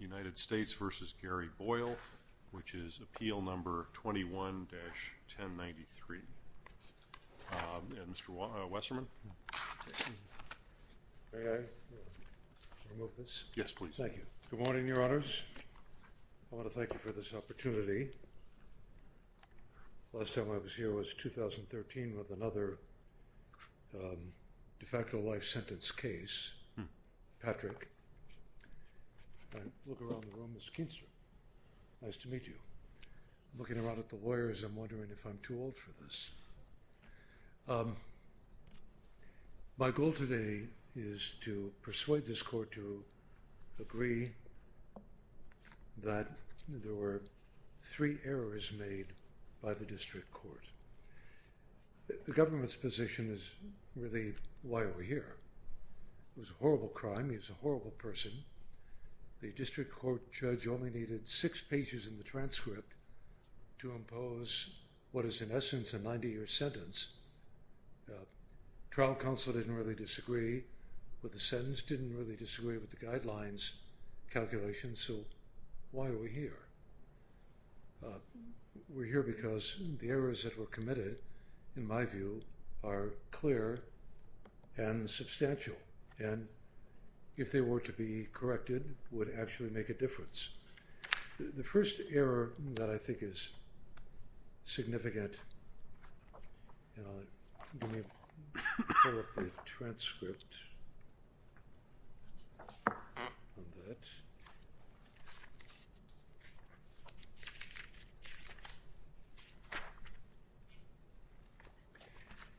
United States v. Gary Boyle, which is Appeal No. 21-1093. Mr. Wesserman? May I remove this? Yes, please. Thank you. Good morning, Your Honors. I want to thank you for this opportunity. The last time I was here was 2013 with another de facto life sentence case, Patrick. I look around the room. Mr. Keenstrom, nice to meet you. Looking around at the lawyers, I'm wondering if I'm too old for this. My goal today is to persuade this court to agree that there were three errors made by the district court. The government's position is really, why are we here? It was a horrible crime. He was a horrible person. The district court judge only needed six pages in the transcript to impose what is, in essence, a 90-year sentence. Trial counsel didn't really disagree with the sentence, didn't really disagree with the guidelines calculation, so why are we here? We're here because the errors that were committed, in my view, are clear and substantial, and if they were to be corrected, would actually make a difference. The first error that I think is significant, and I'll pull up the transcript of that,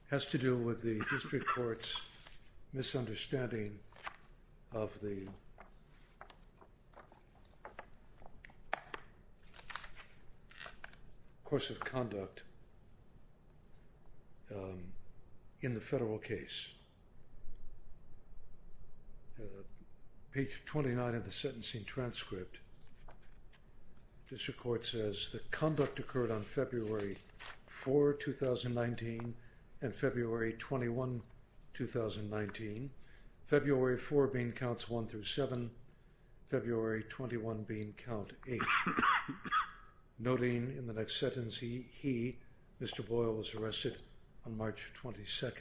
has to do with the district court's misunderstanding of the course of conduct in the federal case. Page 29 of the sentencing transcript, district court says, the conduct occurred on February 4, 2019, and February 21, 2019, February 4 being counts 1 through 7, February 21 being count 8, noting in the next sentence he, Mr. Boyle, was arrested on March 22.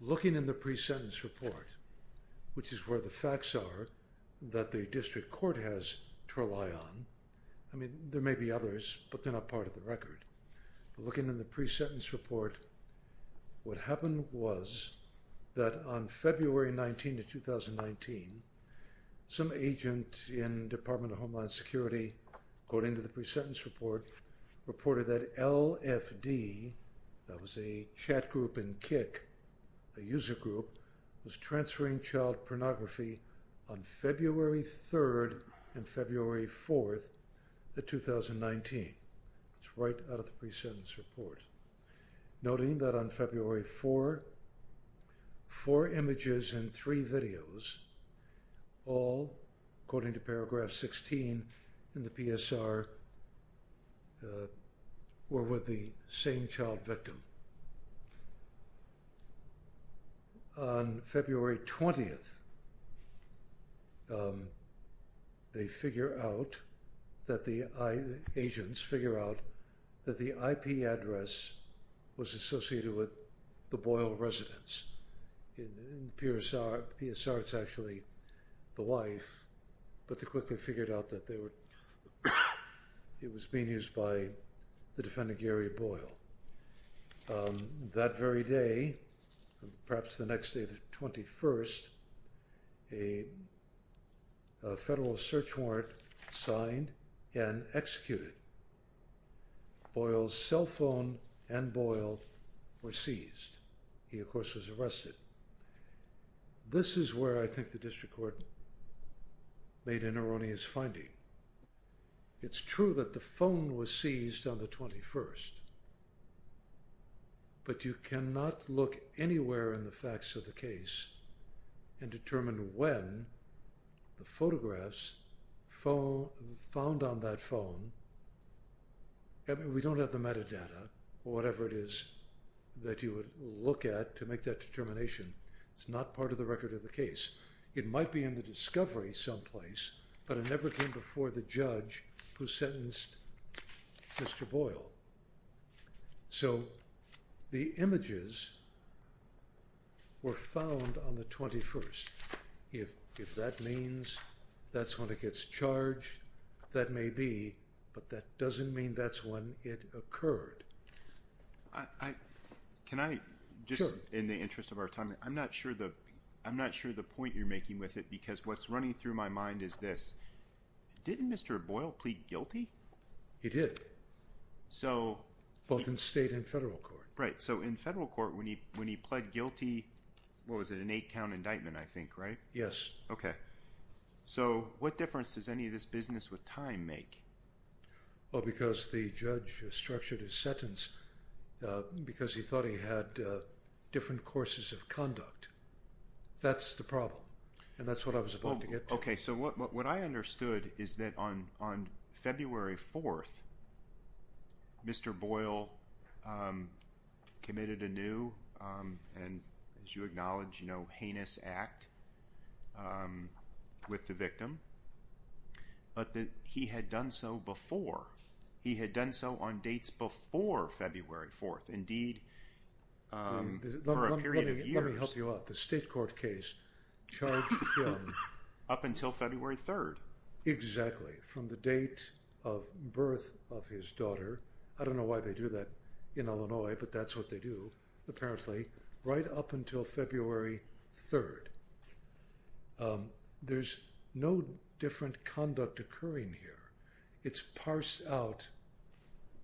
Looking in the pre-sentence report, which is where the facts are that the district court has to rely on, I mean, there may be others, but they're not part of the record. Looking in the pre-sentence report, what happened was that on February 19 of 2019, some agent in Department of Homeland Security, according to the pre-sentence report, reported that LFD, that was a chat group in Kik, a user group, was transferring child pornography on February 3rd and February 4th of 2019. It's right out of the pre-sentence report. Noting that on February 4, four images and three videos, all, according to paragraph 16 in the PSR, were with the same child victim. On February 20th, they figure out that the, agents figure out that the IP address was associated with the Boyle residence. In the PSR, it's actually the wife, but they quickly figured out that they were, it was being used by the defendant, Gary Boyle. That very day, perhaps the next day, the 21st, a federal search warrant signed and executed. Boyle's cell phone and Boyle were seized. This is where I think the district court made an erroneous finding. It's true that the phone was seized on the 21st, but you cannot look anywhere in the facts of the case and determine when the photographs found on that phone, we don't have the metadata, whatever it is that you would look at to make that determination. It's not part of the record of the case. It might be in the discovery someplace, but it never came before the judge who sentenced Mr. Boyle. So the images were found on the 21st. If that means that's when it gets charged, that may be, but that doesn't mean that's when it occurred. Can I, just in the interest of our time, I'm not sure the point you're making with it, because what's running through my mind is this. Didn't Mr. Boyle plead guilty? He did, both in state and federal court. Right, so in federal court, when he pled guilty, what was it, an eight-count indictment, I think, right? Yes. Okay. So what difference does any of this business with time make? Well, because the judge structured his sentence because he thought he had different courses of conduct. That's the problem, and that's what I was about to get to. Okay, so what I understood is that on February 4th, Mr. Boyle committed anew, and as you acknowledge, heinous act with the victim, but that he had done so before. He had done so on dates before February 4th, indeed for a period of years. Let me help you out. The state court case charged him... Up until February 3rd. Exactly, from the date of birth of his daughter. I don't know why they do that in Illinois, but that's what they do, apparently, right up until February 3rd. There's no different conduct occurring here. It's parsed out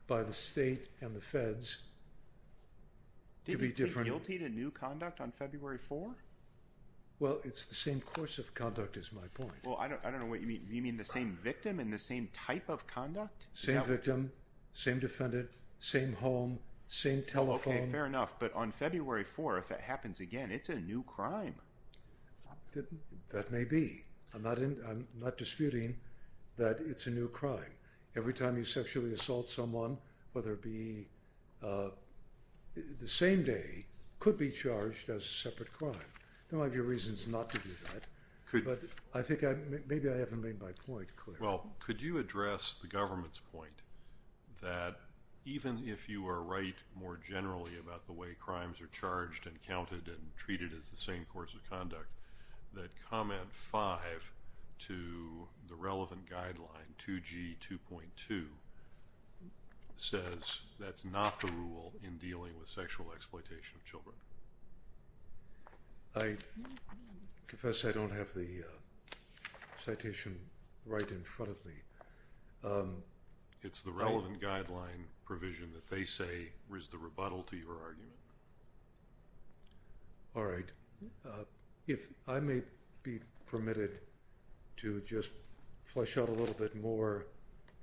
by the state and the feds to be different. Did he plead guilty to new conduct on February 4th? Well, it's the same course of conduct is my point. Well, I don't know what you mean. You mean the same victim and the same type of conduct? Same victim, same defendant, same home, same telephone. Okay, fair enough. But on February 4th, it happens again. It's a new crime. That may be. I'm not disputing that it's a new crime. Every time you sexually assault someone, whether it be the same day, could be charged as a separate crime. There might be reasons not to do that, but I think maybe I haven't made my point clear. Well, could you address the government's point that, even if you are right more generally about the way crimes are charged and counted and treated as the same course of conduct, that Comment 5 to the relevant guideline, 2G 2.2, says that's not the rule in dealing with sexual exploitation of children? I confess I don't have the citation right in front of me. It's the relevant guideline provision that they say is the rebuttal to your argument. All right. If I may be permitted to just flesh out a little bit more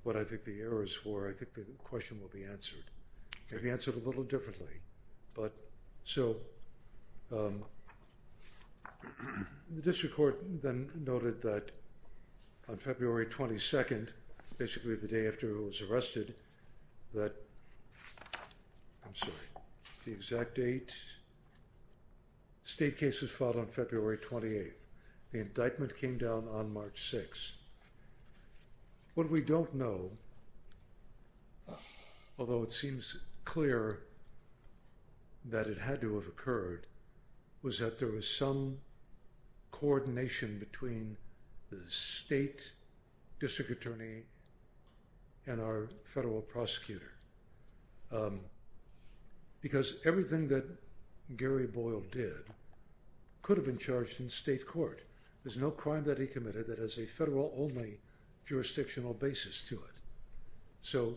what I think the error is for, I think the question will be answered. It will be answered a little differently. But, so, the district court then noted that on February 22nd, basically the day after he was arrested, that, I'm sorry, the exact date, state case was filed on February 28th. The indictment came down on March 6th. What we don't know, although it seems clear that it had to have occurred, was that there was some coordination between the state district attorney and our federal prosecutor. Because everything that Gary Boyle did could have been charged in state court. There's no crime that he committed that has a federal-only jurisdictional basis to it. So,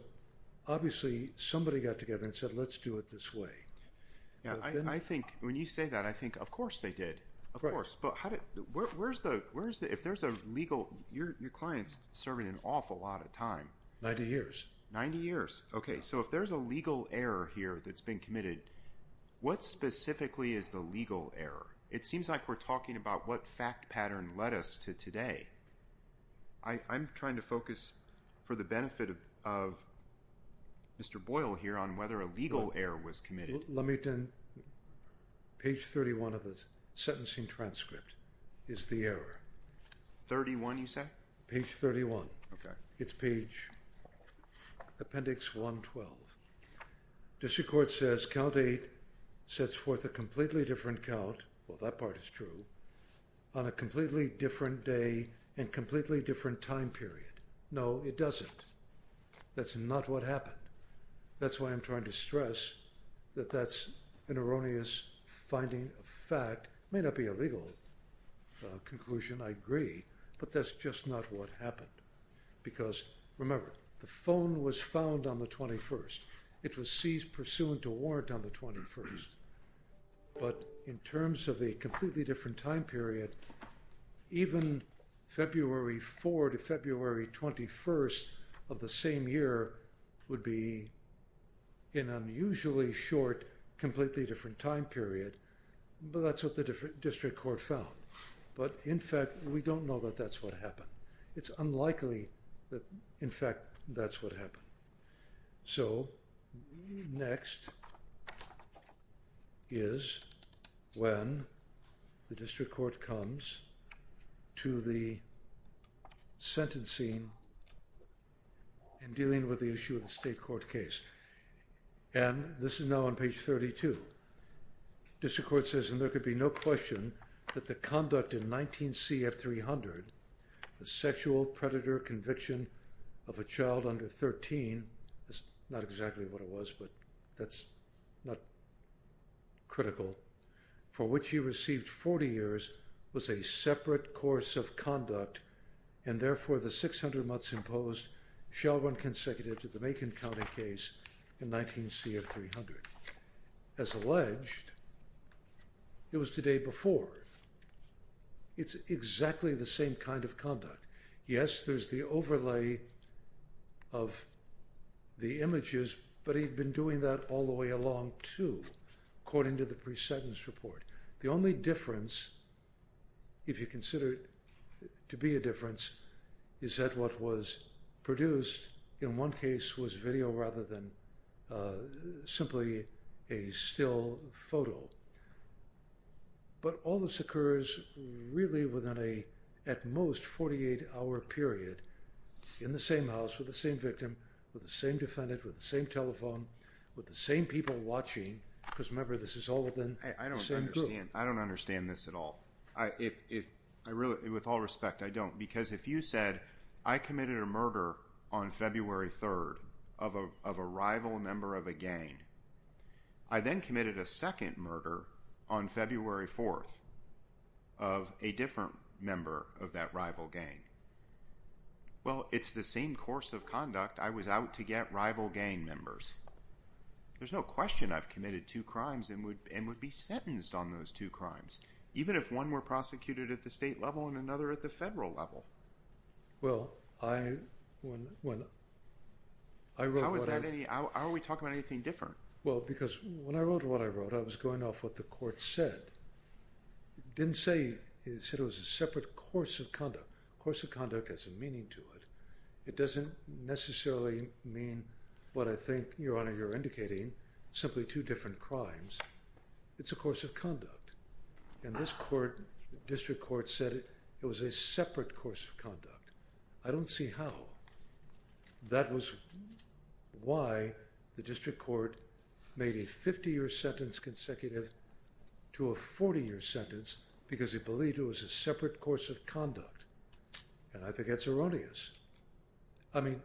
obviously, somebody got together and said, let's do it this way. I think when you say that, I think, of course they did. Of course. But where's the, if there's a legal, your client's serving an awful lot of time. Ninety years. Ninety years. Okay, so if there's a legal error here that's been committed, what specifically is the legal error? It seems like we're talking about what fact pattern led us to today. I'm trying to focus for the benefit of Mr. Boyle here on whether a legal error was committed. Let me then, page 31 of the sentencing transcript is the error. 31, you say? Page 31. Okay. It's page appendix 112. District Court says count eight sets forth a completely different count. Well, that part is true. On a completely different day and completely different time period. No, it doesn't. That's not what happened. That's why I'm trying to stress that that's an erroneous finding of fact. It may not be a legal conclusion. I agree. But that's just not what happened. Because, remember, the phone was found on the 21st. It was seized pursuant to warrant on the 21st. But in terms of a completely different time period, even February 4 to February 21st of the same year would be an unusually short, completely different time period. But that's what the District Court found. But, in fact, we don't know that that's what happened. It's unlikely that, in fact, that's what happened. So next is when the District Court comes to the sentencing and dealing with the issue of the state court case. And this is now on page 32. District Court says, and there could be no question that the conduct in 19C of 300, the sexual predator conviction of a child under 13, that's not exactly what it was, but that's not critical, for which he received 40 years, was a separate course of conduct and, therefore, the 600 months imposed shall run consecutive to the Macon County case in 19C of 300. As alleged, it was the day before. It's exactly the same kind of conduct. Yes, there's the overlay of the images, but he'd been doing that all the way along, too, according to the pre-sentence report. The only difference, if you consider it to be a difference, is that what was produced in one case was video rather than simply a still photo. But all this occurs really within a, at most, 48-hour period in the same house with the same victim, with the same defendant, with the same telephone, with the same people watching, because, remember, this is all within the same group. I don't understand this at all. With all respect, I don't, because if you said, I committed a murder on February 3rd of a rival member of a gang, I then committed a second murder on February 4th of a different member of that rival gang, well, it's the same course of conduct. I was out to get rival gang members. There's no question I've committed two crimes and would be sentenced on those two crimes, even if one were prosecuted at the state level and another at the federal level. Well, I, when, I wrote what I... How is that any, how are we talking about anything different? Well, because when I wrote what I wrote, I was going off what the court said. It didn't say, it said it was a separate course of conduct. A course of conduct has a meaning to it. It doesn't necessarily mean what I think, Your Honor, you're indicating, simply two different crimes. It's a course of conduct. And this court, district court, said it was a separate course of conduct. I don't see how. That was why the district court made a 50-year sentence consecutive to a 40-year sentence because it believed it was a separate course of conduct. And I think that's erroneous. I mean,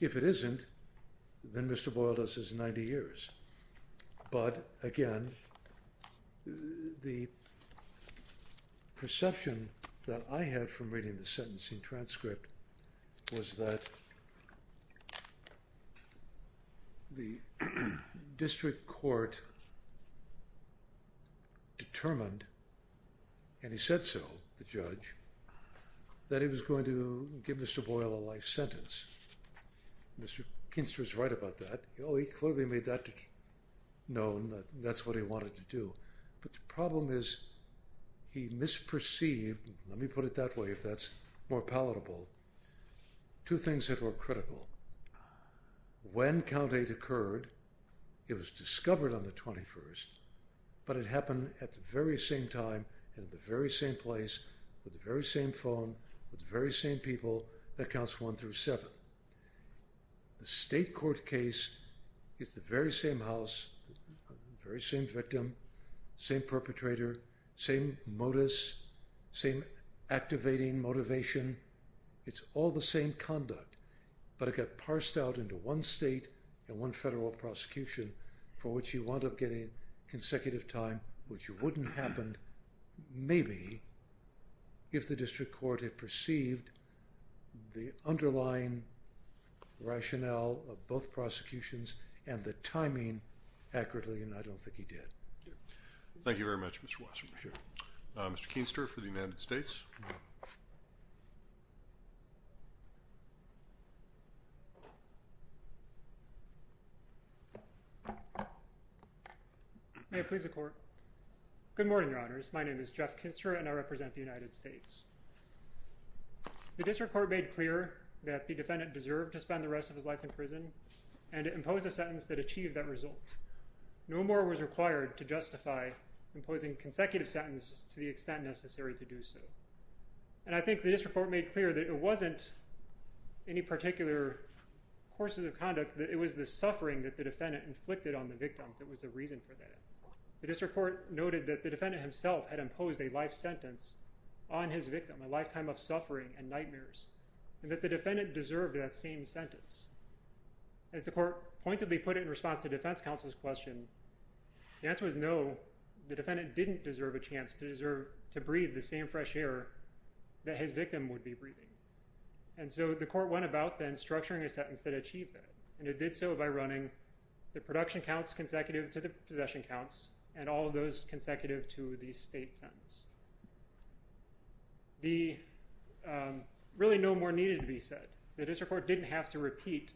if it isn't, then Mr. Boyle does his 90 years. But again, the perception that I had from reading the sentencing transcript was that the district court determined, and he said so, the judge, that he was going to give Mr. Boyle a life sentence. Mr. Kinster is right about that. He clearly made that known, that that's what he wanted to do. But the problem is he misperceived, let me put it that way, if that's more palatable, two things that were critical. When Count 8 occurred, it was discovered on the 21st, but it happened at the very same time and at the very same place, with the very same phone, with the very same people, that counts 1 through 7. The state court case is the very same house, very same victim, same perpetrator, same modus, same activating motivation. It's all the same conduct, but it got parsed out into one state and one federal prosecution for which you wound up getting consecutive time, which wouldn't have happened maybe if the district court had perceived the underlying rationale of both prosecutions and the timing accurately, and I don't think he did. Thank you very much, Mr. Wasserman. Mr. Kinster for the United States. May it please the Court. Good morning, Your Honors. My name is Jeff Kinster, and I represent the United States. The district court made clear that the defendant deserved to spend the rest of his life in prison, and it imposed a sentence that achieved that result. No more was required to justify imposing consecutive sentences to the extent necessary to do so, and I think the district court made clear that it wasn't any particular courses of conduct, that it was the suffering that the defendant inflicted on the victim that was the reason for that. The district court noted that the defendant himself had imposed a life sentence on his victim, a lifetime of suffering and nightmares, and that the defendant deserved that same sentence. As the court pointedly put it in response to defense counsel's question, the answer was no, the defendant didn't deserve a chance to breathe the same fresh air that his victim would be breathing, and so the court went about then structuring a sentence that achieved that, and it did so by running the production counts consecutive to the possession counts and all of those consecutive to the state sentence. Really no more needed to be said. The district court didn't have to repeat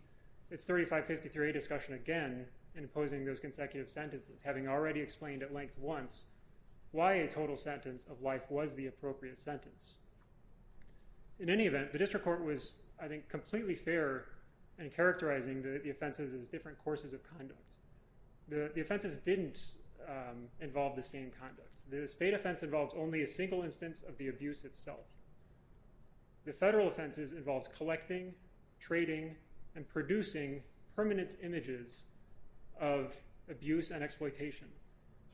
its 3553A discussion again in imposing those consecutive sentences, having already explained at length once why a total sentence of life was the appropriate sentence. In any event, the district court was, I think, completely fair in characterizing the offenses as different courses of conduct. The offenses didn't involve the same conduct. The state offense involved only a single instance of the abuse itself. The federal offenses involved collecting, trading, and producing permanent images of abuse and exploitation.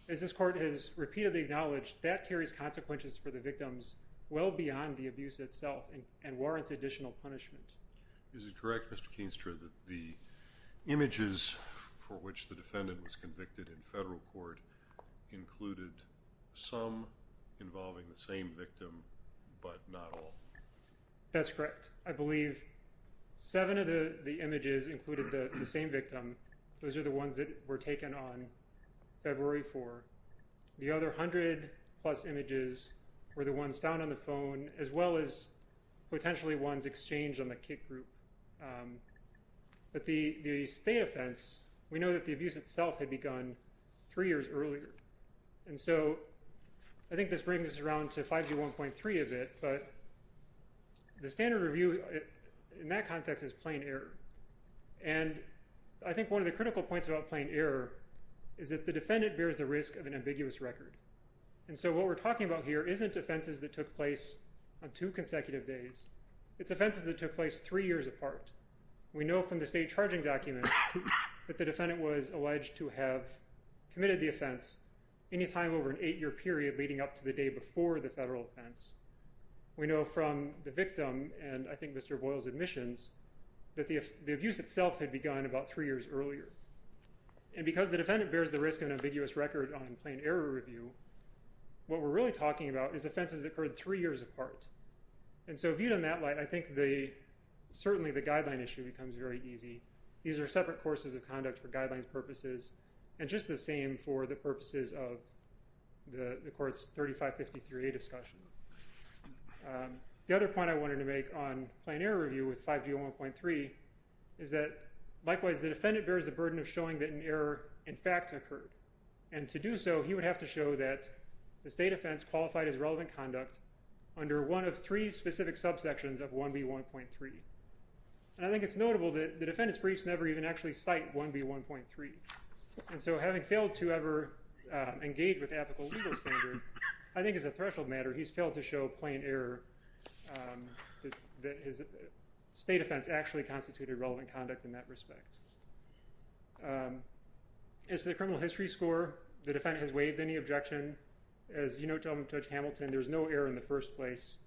As this court has repeatedly acknowledged, that carries consequences for the victims well beyond the abuse itself and warrants additional punishment. Is it correct, Mr. Keenstra, that the images for which the defendant was convicted in federal court included some involving the same victim but not all? That's correct. I believe seven of the images included the same victim. Those are the ones that were taken on February 4th. The other 100-plus images were the ones found on the phone as well as potentially ones exchanged on the kick group. The state offense, we know that the abuse itself had begun three years earlier. I think this brings us around to 5G1.3 a bit, but the standard review in that context is plain error. I think one of the critical points about plain error is that the defendant bears the risk of an ambiguous record. What we're talking about here isn't offenses that took place on two consecutive days. It's offenses that took place three years apart. We know from the state charging document that the defendant was alleged to have committed the offense any time over an eight-year period leading up to the day before the federal offense. We know from the victim and I think Mr. Boyle's admissions that the abuse itself had begun about three years earlier. Because the defendant bears the risk of an ambiguous record on plain error review, what we're really talking about is offenses that occurred three years apart. Viewed in that light, I think certainly the guideline issue becomes very easy. These are separate courses of conduct for guidelines purposes and just the same for the purposes of the court's 3553A discussion. The other point I wanted to make on plain error review with 5G1.3 is that likewise the defendant bears the burden of showing that an error in fact occurred. To do so, he would have to show that the state offense qualified as relevant conduct under one of three specific subsections of 1B1.3. I think it's notable that the defendant's briefs never even actually cite 1B1.3. Having failed to ever engage with ethical legal standard, I think as a threshold matter, he's failed to show plain error that his state offense actually constituted relevant conduct in that respect. As to the criminal history score, the defendant has waived any objection. As you know, Judge Hamilton, there's no error in the first place.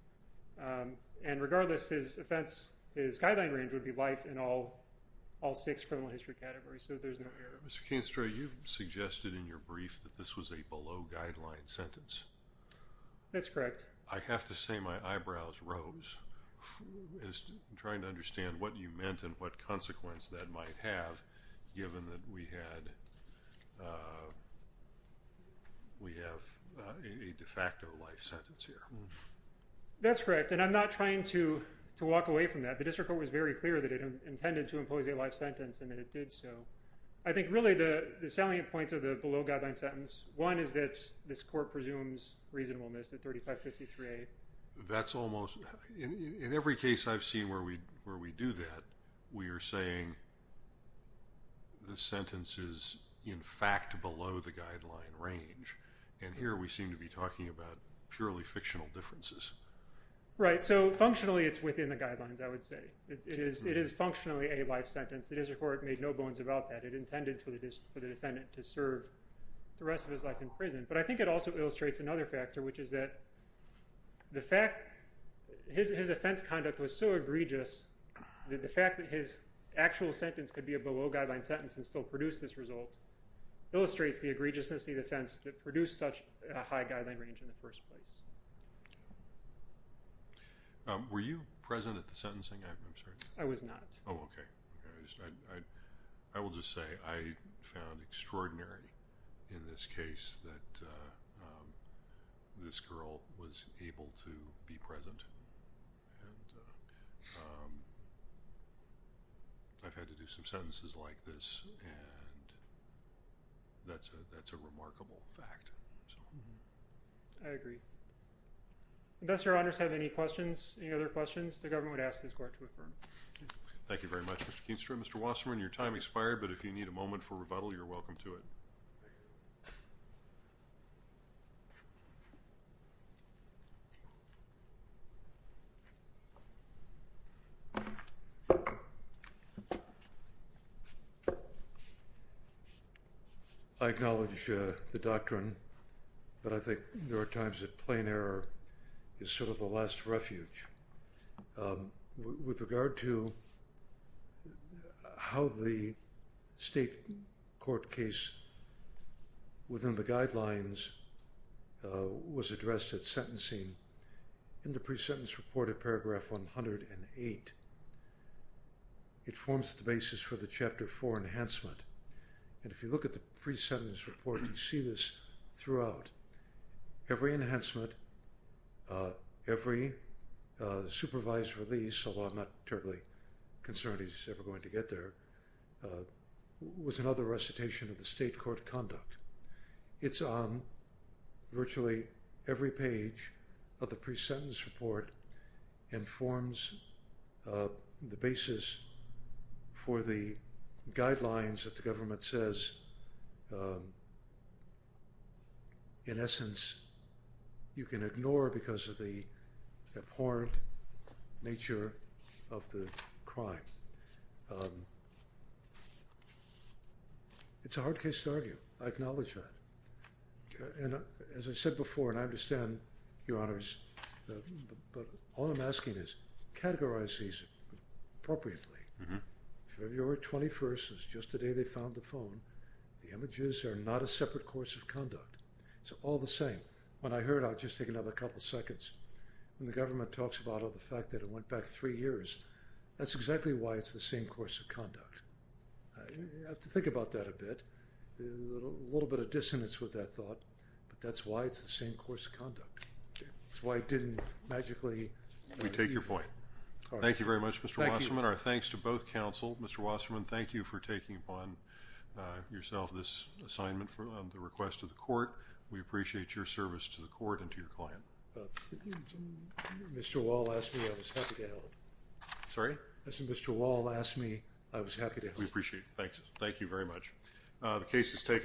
And regardless, his offense, his guideline range would be life in all six criminal history categories, so there's no error. Mr. Canestro, you suggested in your brief that this was a below-guideline sentence. That's correct. I have to say my eyebrows rose trying to understand what you meant and what consequence that might have given that we have a de facto life sentence here. That's correct, and I'm not trying to walk away from that. The district court was very clear that it intended to impose a life sentence and that it did so. I think really the salient points of the below-guideline sentence, one is that this court presumes reasonableness at 3553A. That's almost, in every case I've seen where we do that, we are saying the sentence is in fact below the guideline range, and here we seem to be talking about purely fictional differences. Right, so functionally it's within the guidelines, I would say. It is functionally a life sentence. The district court made no bones about that. It intended for the defendant to serve the rest of his life in prison. But I think it also illustrates another factor, which is that his offense conduct was so egregious that the fact that his actual sentence could be a below-guideline sentence and still produce this result illustrates the egregiousness of the offense that produced such a high guideline range in the first place. Were you present at the sentencing? I'm sorry. I was not. Oh, okay. I will just say I found extraordinary in this case that this girl was able to be present. And I've had to do some sentences like this, and that's a remarkable fact. I agree. Unless Your Honors have any questions, any other questions, the government would ask this court to affirm. Thank you very much, Mr. Keenstrom. Mr. Wasserman, your time expired, but if you need a moment for rebuttal, you're welcome to it. I acknowledge the doctrine, but I think there are times that plain error is sort of the last refuge. With regard to how the state court case within the guidelines was addressed at sentencing, in the pre-sentence report at paragraph 108, it forms the basis for the Chapter 4 enhancement. And if you look at the pre-sentence report, you see this throughout. Every enhancement, every supervised release, although I'm not terribly concerned he's ever going to get there, was another recitation of the state court conduct. It's on virtually every page of the pre-sentence report, and forms the basis for the guidelines that the government says, in essence, you can ignore because of the abhorrent nature of the crime. It's a hard case to argue. I acknowledge that. And as I said before, and I understand, Your Honors, but all I'm asking is, categorize these appropriately. February 21st is just the day they found the phone. The images are not a separate course of conduct. It's all the same. When I heard, I'll just take another couple seconds, when the government talks about the fact that it went back three years, that's exactly why it's the same course of conduct. You have to think about that a bit. A little bit of dissonance with that thought, but that's why it's the same course of conduct. It's why it didn't magically... We take your point. Thank you very much, Mr. Wasserman. Our thanks to both counsel. Mr. Wasserman, thank you for taking upon yourself this assignment on the request of the court. We appreciate your service to the court and to your client. Mr. Wall asked me, I was happy to help. Sorry? Mr. Wall asked me, I was happy to help. We appreciate it. Thank you very much.